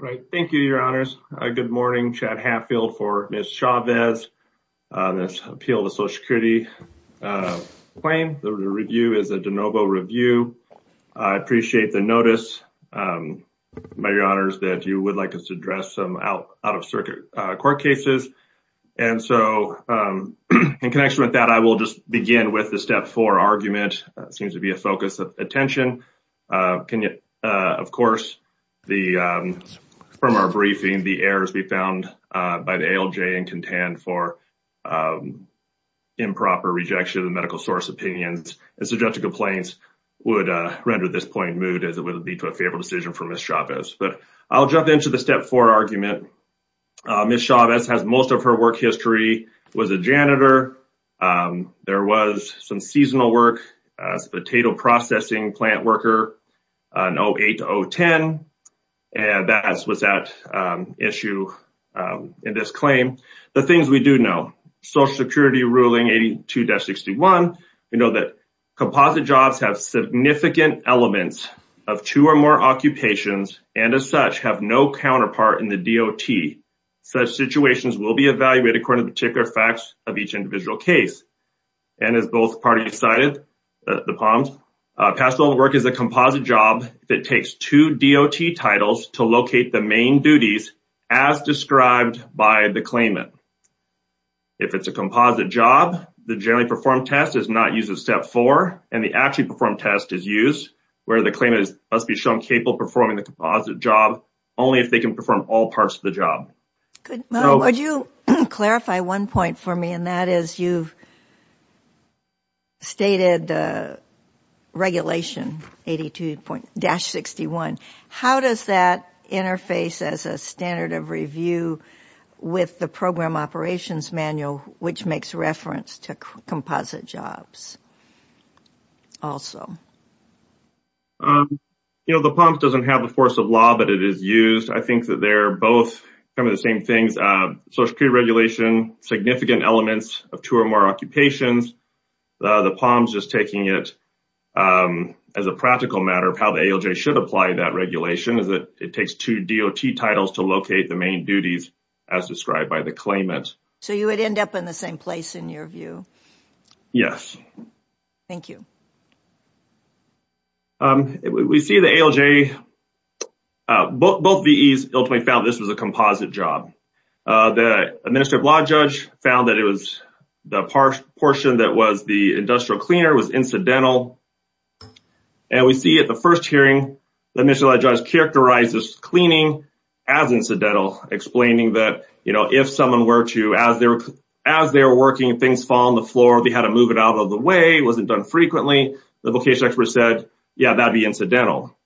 All right. Thank you, Your Honors. Good morning. Chad Hatfield for Ms. Chavez on this appeal to Social Security claim. The review is a de novo review. I appreciate the notice by Your Honors that you would like us to address some out-of-circuit court cases. And so, in connection with that, I will just begin with the step four argument. It seems to be a focus of attention. Can you, of course, from our briefing, the errors we found by the ALJ and contend for improper rejection of the medical source opinions and suggested complaints would render this point moved as it would be to a favorable decision for Ms. Chavez. But I'll jump into the step four argument. Ms. Chavez has most of her work history, was a janitor, was a potato processing plant worker, and that was at issue in this claim. The things we do know, Social Security ruling 82-61, we know that composite jobs have significant elements of two or more occupations and as such have no counterpart in the DOT. Such situations will be recorded particular facts of each individual case. And as both parties cited, the palms, pastoral work is a composite job that takes two DOT titles to locate the main duties as described by the claimant. If it's a composite job, the generally performed test is not used as step four and the actually performed test is used where the claimant must be shown capable of performing the job only if they can perform all parts of the job. Good. Would you clarify one point for me? And that is you've stated regulation 82-61. How does that interface as a standard of review with the program operations manual, which makes reference to composite jobs also? Um, you know, the palms doesn't have the force of law, but it is used. I think that they're both kind of the same things. Social Security regulation, significant elements of two or more occupations. The palms just taking it as a practical matter of how the ALJ should apply that regulation is that it takes two DOT titles to locate the main duties as described by the claimant. So you would end up in the same place in your view? Yes. Thank you. Um, we see the ALJ, both VEs ultimately found this was a composite job. The administrative law judge found that it was the portion that was the industrial cleaner was incidental. And we see at the first hearing, the administrative law judge characterized this cleaning as incidental, explaining that, you know, if someone were to, as they were working, things fall on the floor, they had to move it out of the way, it wasn't done frequently. The vocation expert said, yeah, that'd be incidental.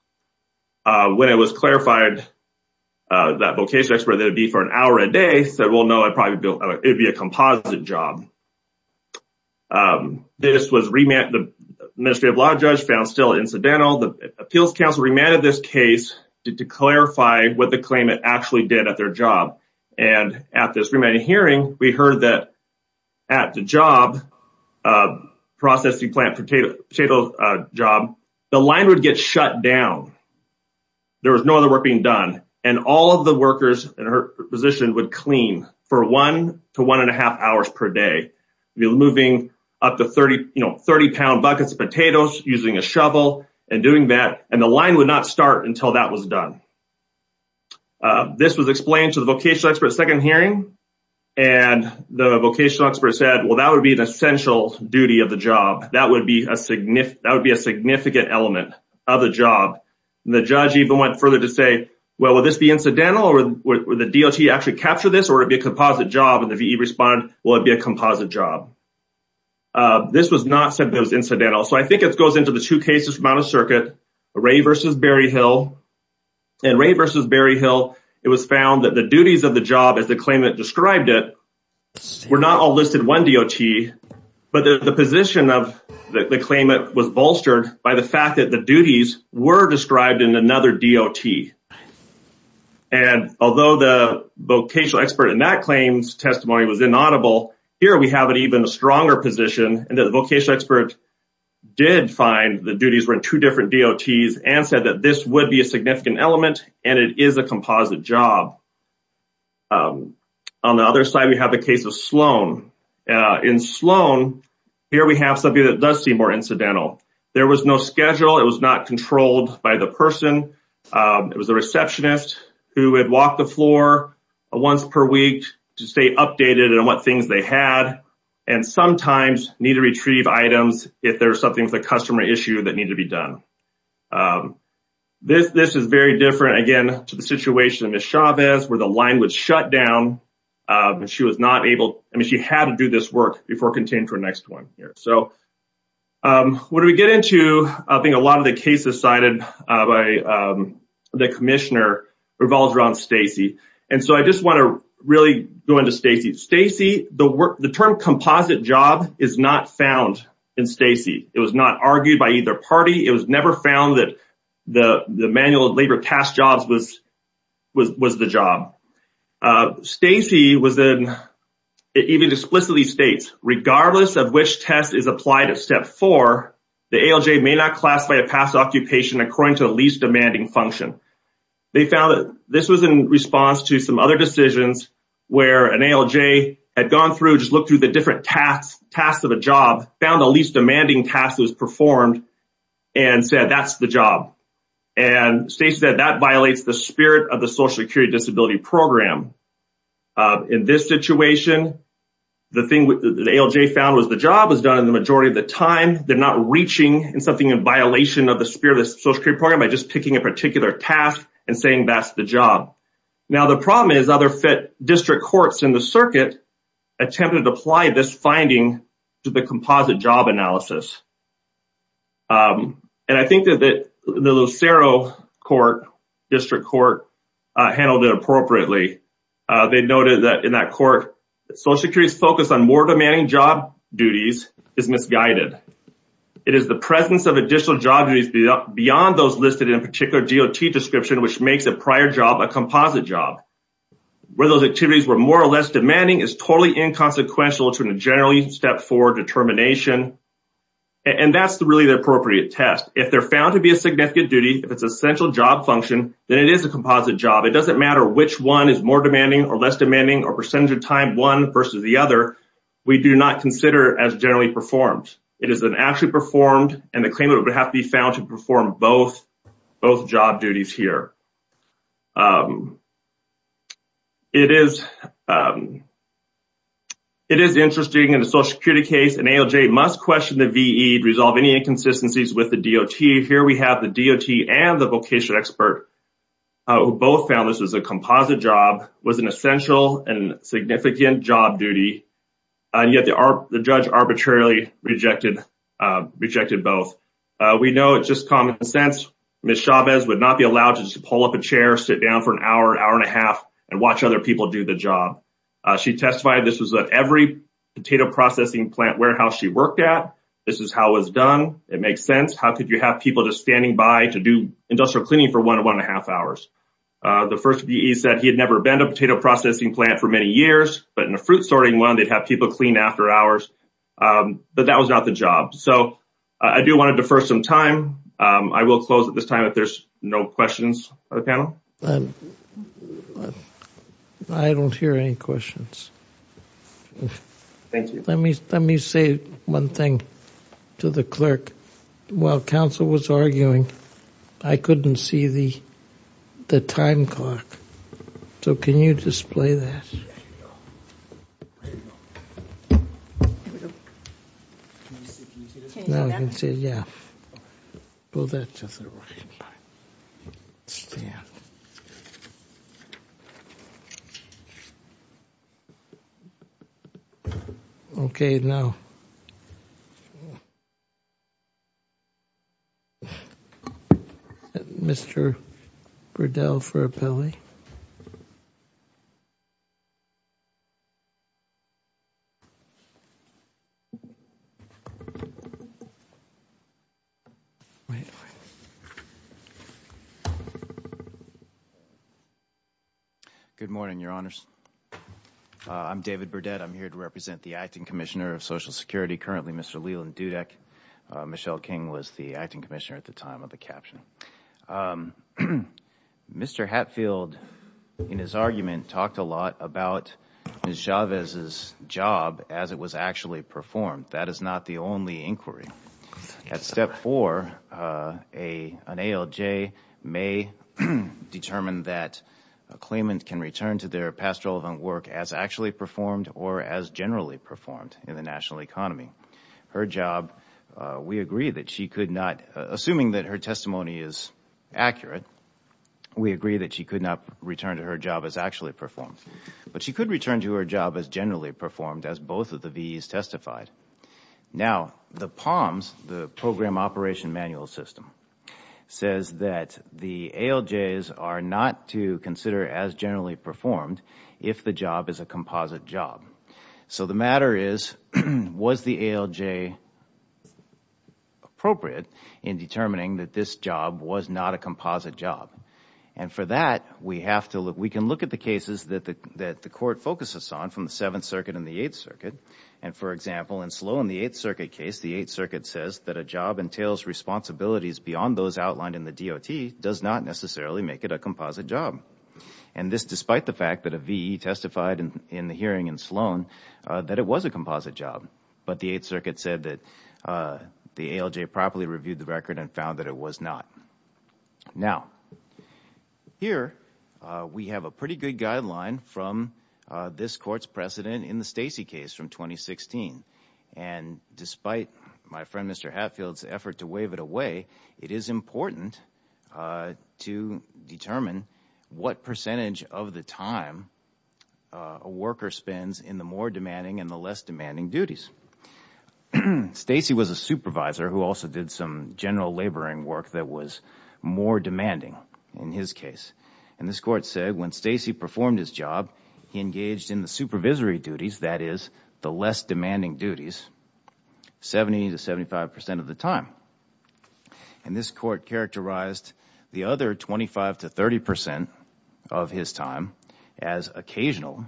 When it was clarified, that vocation expert that would be for an hour a day said, well, no, I probably built, it'd be a composite job. Um, this was remanded. The administrative law judge found still incidental. The appeals counsel remanded this case to clarify what the claimant actually did at their job. And at this remanded hearing, we heard that at the job of processing plant potato job, the line would get shut down. There was no other work being done. And all of the workers in her position would clean for one to one and a half hours per day, moving up to 30, you know, 30 pound buckets of potatoes using a shovel and doing that. And the line would not start until that was done. This was explained to the vocation expert second hearing. And the vocation expert said, well, that would be an essential duty of the job. That would be a significant, that would be a significant element of the job. The judge even went further to say, well, would this be incidental? Would the DOT actually capture this or it'd be a composite job? And the VE responded, well, it'd be a composite job. Uh, this was not said those incidental. So I think it goes into the two cases from out of circuit, Ray versus Berryhill. And Ray versus Berryhill, it was found that the duties of the job as the claimant described it, were not all listed one DOT, but the position of the claimant was bolstered by the fact that the duties were described in another DOT. And although the vocational expert in that claims testimony was inaudible, here we have an even stronger position and that the vocational expert did find the duties were in two different DOTs and said that this would be a significant element and it is a composite job. On the other side, we have the case of Sloan. In Sloan, here we have something that does seem more incidental. There was no schedule. It was not controlled by the person. It was a receptionist who had walked the floor once per week to stay updated on what things they had and sometimes need to retrieve items if there's something a customer issue that needed to be done. This is very different, again, to the situation in Ms. Chavez where the line would shut down and she was not able, I mean, she had to do this work before continuing to her next one here. So what do we get into? I think a lot of the cases cited by the commissioner revolves around Stacy. And so I just want to really go into Stacy. Stacy, the term composite job is not found in Stacy. It was not argued by either party. It was never found that the manual of labor past jobs was the job. Stacy even explicitly states, regardless of which test is applied at step four, the ALJ may not classify a past occupation according to the least demanding function. They found that this was in response to some other decisions where an ALJ had gone through, just looked through the different tasks of a job, found the least demanding task that was performed, and said, that's the job. And Stacy said that violates the spirit of the Social Security Disability Program. In this situation, the thing that the ALJ found was the job was done in the majority of the time. They're not reaching in something in violation of the spirit of the Social Security Program by just picking a particular task and saying that's the job. Now, the problem is other district courts in the circuit attempted to apply this finding to the composite job analysis. And I think that the Lucero District Court handled it appropriately. They noted that in that court, Social Security's focus on more demanding job duties is misguided. It is the presence of additional job duties beyond those listed in a particular DOT description, which makes a prior job a composite job. Where those activities were more or less demanding is totally inconsequential to a generally step forward determination. And that's really the appropriate test. If they're found to be a significant duty, if it's essential job function, then it is a composite job. It doesn't matter which one is more demanding or less demanding or percentage of time one versus the other. We do not consider as generally performed. It is an performed and the claimant would have to be found to perform both job duties here. It is interesting in a Social Security case, an ALJ must question the VE to resolve any inconsistencies with the DOT. Here we have the DOT and the vocation expert who both found this was a composite job, was an essential and significant job duty. And yet the judge arbitrarily rejected both. We know it's just common sense. Ms. Chavez would not be allowed to just pull up a chair, sit down for an hour, hour and a half and watch other people do the job. She testified this was at every potato processing plant warehouse she worked at. This is how it was done. It makes sense. How could you have people just standing by to do industrial cleaning for one and one and a half hours? The first VE said he had never been to a potato processing plant for many years, but in a fruit sorting one, they'd have people clean after hours. But that was not the job. So I do want to defer some time. I will close at this time if there's no questions from the panel. I don't hear any questions. Thank you. Let me say one thing to the clerk. While you're well, that's just a stand. Okay. Now, Mr. Burdell for a belly. Good morning, Your Honors. I'm David Burdett. I'm here to represent the acting commissioner of Social Security. Currently, Mr. Leland Dudek. Michelle King was the acting commissioner at the caption. Mr. Hatfield, in his argument, talked a lot about Ms. Chavez's job as it was actually performed. That is not the only inquiry. At step four, an ALJ may determine that a claimant can return to their pastoral work as actually performed or as generally performed in the testimony is accurate. We agree that she could not return to her job as actually performed, but she could return to her job as generally performed as both of the VEs testified. Now, the POMS, the Program Operation Manual System, says that the ALJs are not to consider as generally performed if the job is a composite job. So the matter is, was the ALJ appropriate in determining that this job was not a composite job? For that, we can look at the cases that the court focuses on from the Seventh Circuit and the Eighth Circuit. For example, in Sloan, the Eighth Circuit case, the Eighth Circuit says that a job entails responsibilities beyond those outlined in the DOT does not necessarily make it a composite job. This, despite the fact that a VE testified in the hearing in Sloan that it was a composite job, but the Eighth Circuit said that the ALJ properly reviewed the record and found that it was not. Now, here we have a pretty good guideline from this court's precedent in the Stacey case from 2016, and despite my friend Mr. Hatfield's effort to wave it away, it is important to determine what percentage of the time a worker spends in the more demanding and the less demanding duties. Stacey was a supervisor who also did some general laboring work that was more demanding in his case, and this court said when Stacey performed his job, he engaged in the supervisory duties, that is, the less demanding duties, 70 to 75 percent of the time. And this court characterized the other 25 to 30 percent of his time as occasional,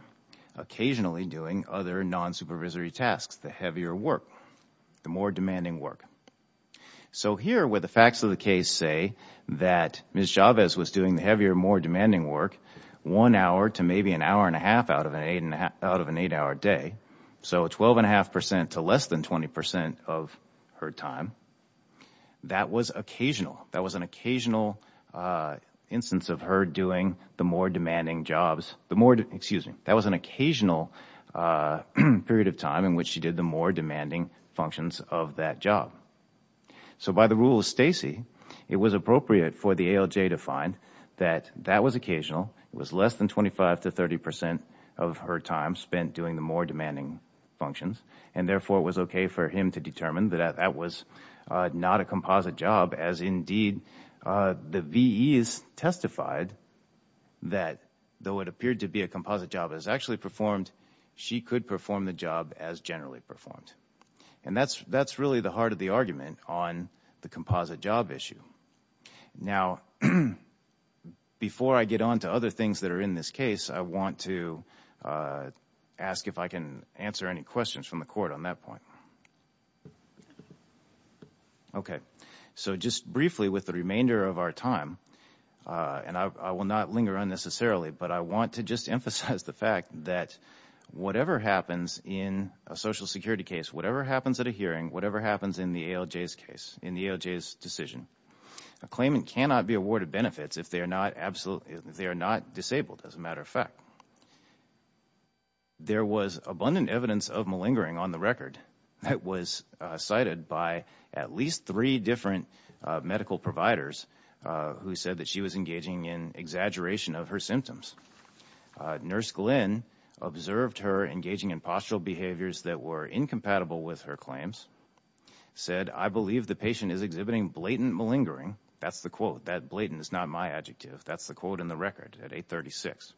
occasionally doing other non-supervisory tasks, the heavier work, the more demanding work. So here, where the facts of the case say that Ms. Chavez was doing the heavier, more demanding work, one hour to maybe an hour and a half out of an eight-hour day, so 12.5 percent to less than 20 percent of her time, that was occasional. That was an occasional instance of her doing the more demanding jobs, the more, excuse me, that was an occasional period of time in which she did the more demanding functions of that job. So by the rule of Stacey, it was appropriate for the ALJ to find that that was occasional, it was less than 25 to 30 percent of her time spent doing the more demanding functions, and therefore it was okay for him to determine that that was not a composite job, as indeed the VEs testified that though it appeared to be a composite job as actually performed, she could perform the job as generally performed. And that's really the heart of the argument on the composite job issue. Now, before I get on to other things that are in this case, I want to ask if I can answer any questions from the Court on that point. Okay, so just briefly with the remainder of our time, and I will not linger unnecessarily, but I want to just emphasize the fact that whatever happens in a Social Security case, whatever happens at a hearing, whatever happens in the ALJ's case, in the ALJ's decision, a claimant cannot be awarded benefits if they are not disabled, as a matter of fact. There was abundant evidence of malingering on the record that was cited by at least three different medical providers who said that she was engaging in exaggeration of her symptoms. Nurse Glenn observed her engaging in postural behaviors that were incompatible with her claims, said, I believe the patient is exhibiting blatant malingering, that's the quote, that blatant is not my adjective, that's the quote in the record at 836,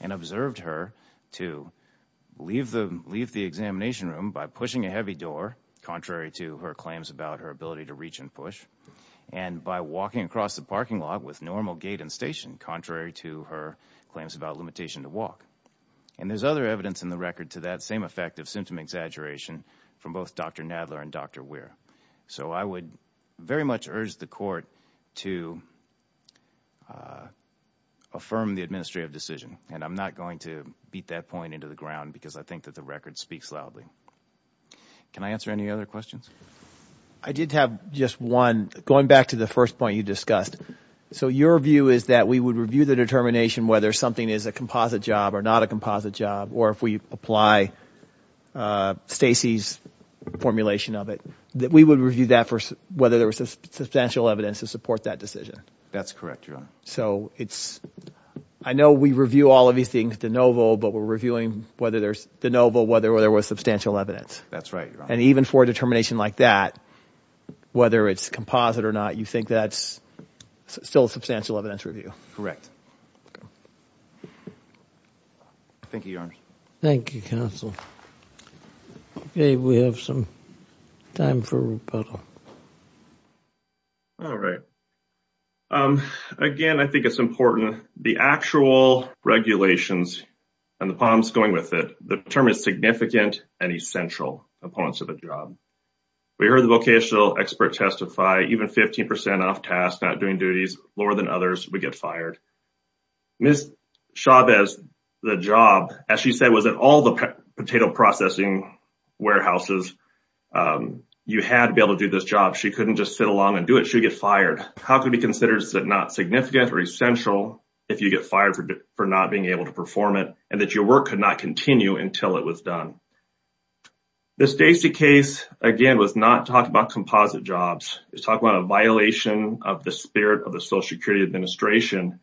and observed her to leave the examination room by pushing a heavy door, contrary to her claims about her ability to reach and push, and by walking across the parking lot with normal gait and station, contrary to her claims about limitation to walk. And there's other evidence in the record to that same effect of symptom exaggeration from both Dr. Nadler and Dr. Weir. So I would very much urge the Court to affirm the administrative decision, and I'm not going to beat that point into the ground, because I think that the record speaks loudly. Can I answer any other questions? I did have just one, going back to the first point you discussed. So your view is that we would review the determination whether something is a composite job or not a composite job, or if we apply Stacy's formulation of it, that we would review that for whether there was substantial evidence to support that decision? That's correct, Your Honor. So it's, I know we review all of these things de novo, but we're reviewing whether there's de novo whether there was substantial evidence. That's right, Your Honor. And even for a determination like that, whether it's composite or not, you think that's still a substantial evidence review? Correct. Thank you, Your Honor. Thank you, counsel. Okay, we have some time for rebuttal. All right. Again, I think it's important, the actual regulations and the problems going with it, the term is significant and essential opponents of the job. We heard the vocational expert testify, even 15% off task, not doing duties, lower than others, we get fired. Ms. Chavez, the job, as she said, was at all the potato processing warehouses. You had to be able to do this job. She couldn't just sit along and do it, she'd get fired. How could we consider that not significant or essential if you get fired for not being able to perform it, and that your work could not continue until it was done? This Stacy case, again, was not talking about composite jobs. It's talking about a violation of the spirit of the Social Security Administration.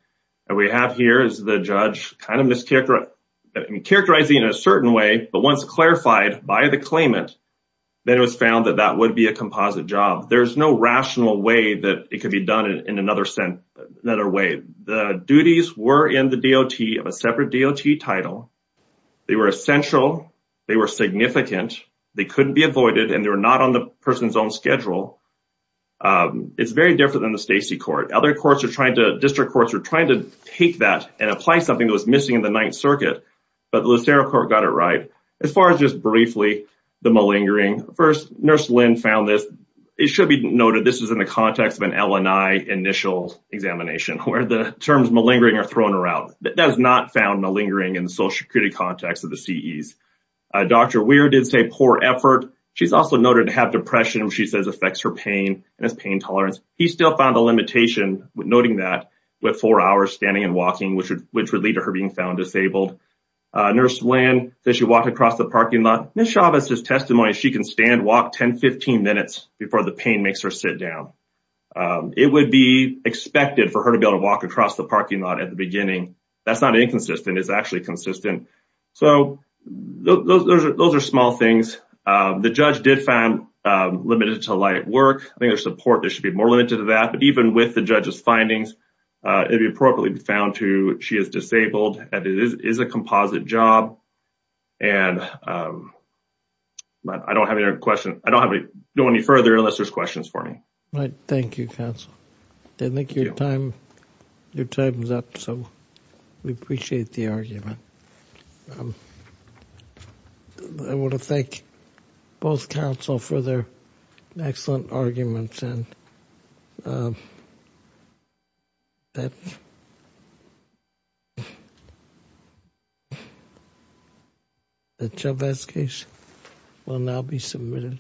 We have here is the judge characterizing in a certain way, but once clarified by the claimant, then it was found that that would be a composite job. There's no rational way that it could be done in another way. The duties were in the DOT of a separate DOT title. They were essential, they were significant, they couldn't be avoided, and they were not on the person's own schedule. It's very different than the Stacy court. District courts are trying to take that and apply something that was missing in the Ninth Circuit, but the Lucero court got it right. As far as just briefly, the malingering, first, Nurse Lynn found this. It should be noted, this is in the context of an LNI initial examination where the terms malingering are thrown around. That is not found malingering in the Social Security context of the CEs. Dr. Weir did say poor effort. She's also noted to have depression, which she says affects her pain and has pain tolerance. He still found a limitation with noting that with four hours standing and walking, which would lead to her being found disabled. Nurse Lynn, she walked across the parking lot. Ms. Chavez's testimony, she can stand walk 10, 15 minutes before the pain makes her sit down. It would be expected for her to be able to walk across the parking lot at the beginning. That's not inconsistent. It's actually consistent. Those are small things. The judge did find limited to light work. I think there's support there should be more limited to that. Even with the judge's findings, it would be appropriately found to she is disabled and it is a composite job. I don't have any further unless there's questions for me. Right. Thank you, counsel. I think your time, your time is up. So we appreciate the argument. I want to thank both counsel for their excellent arguments and that lesson.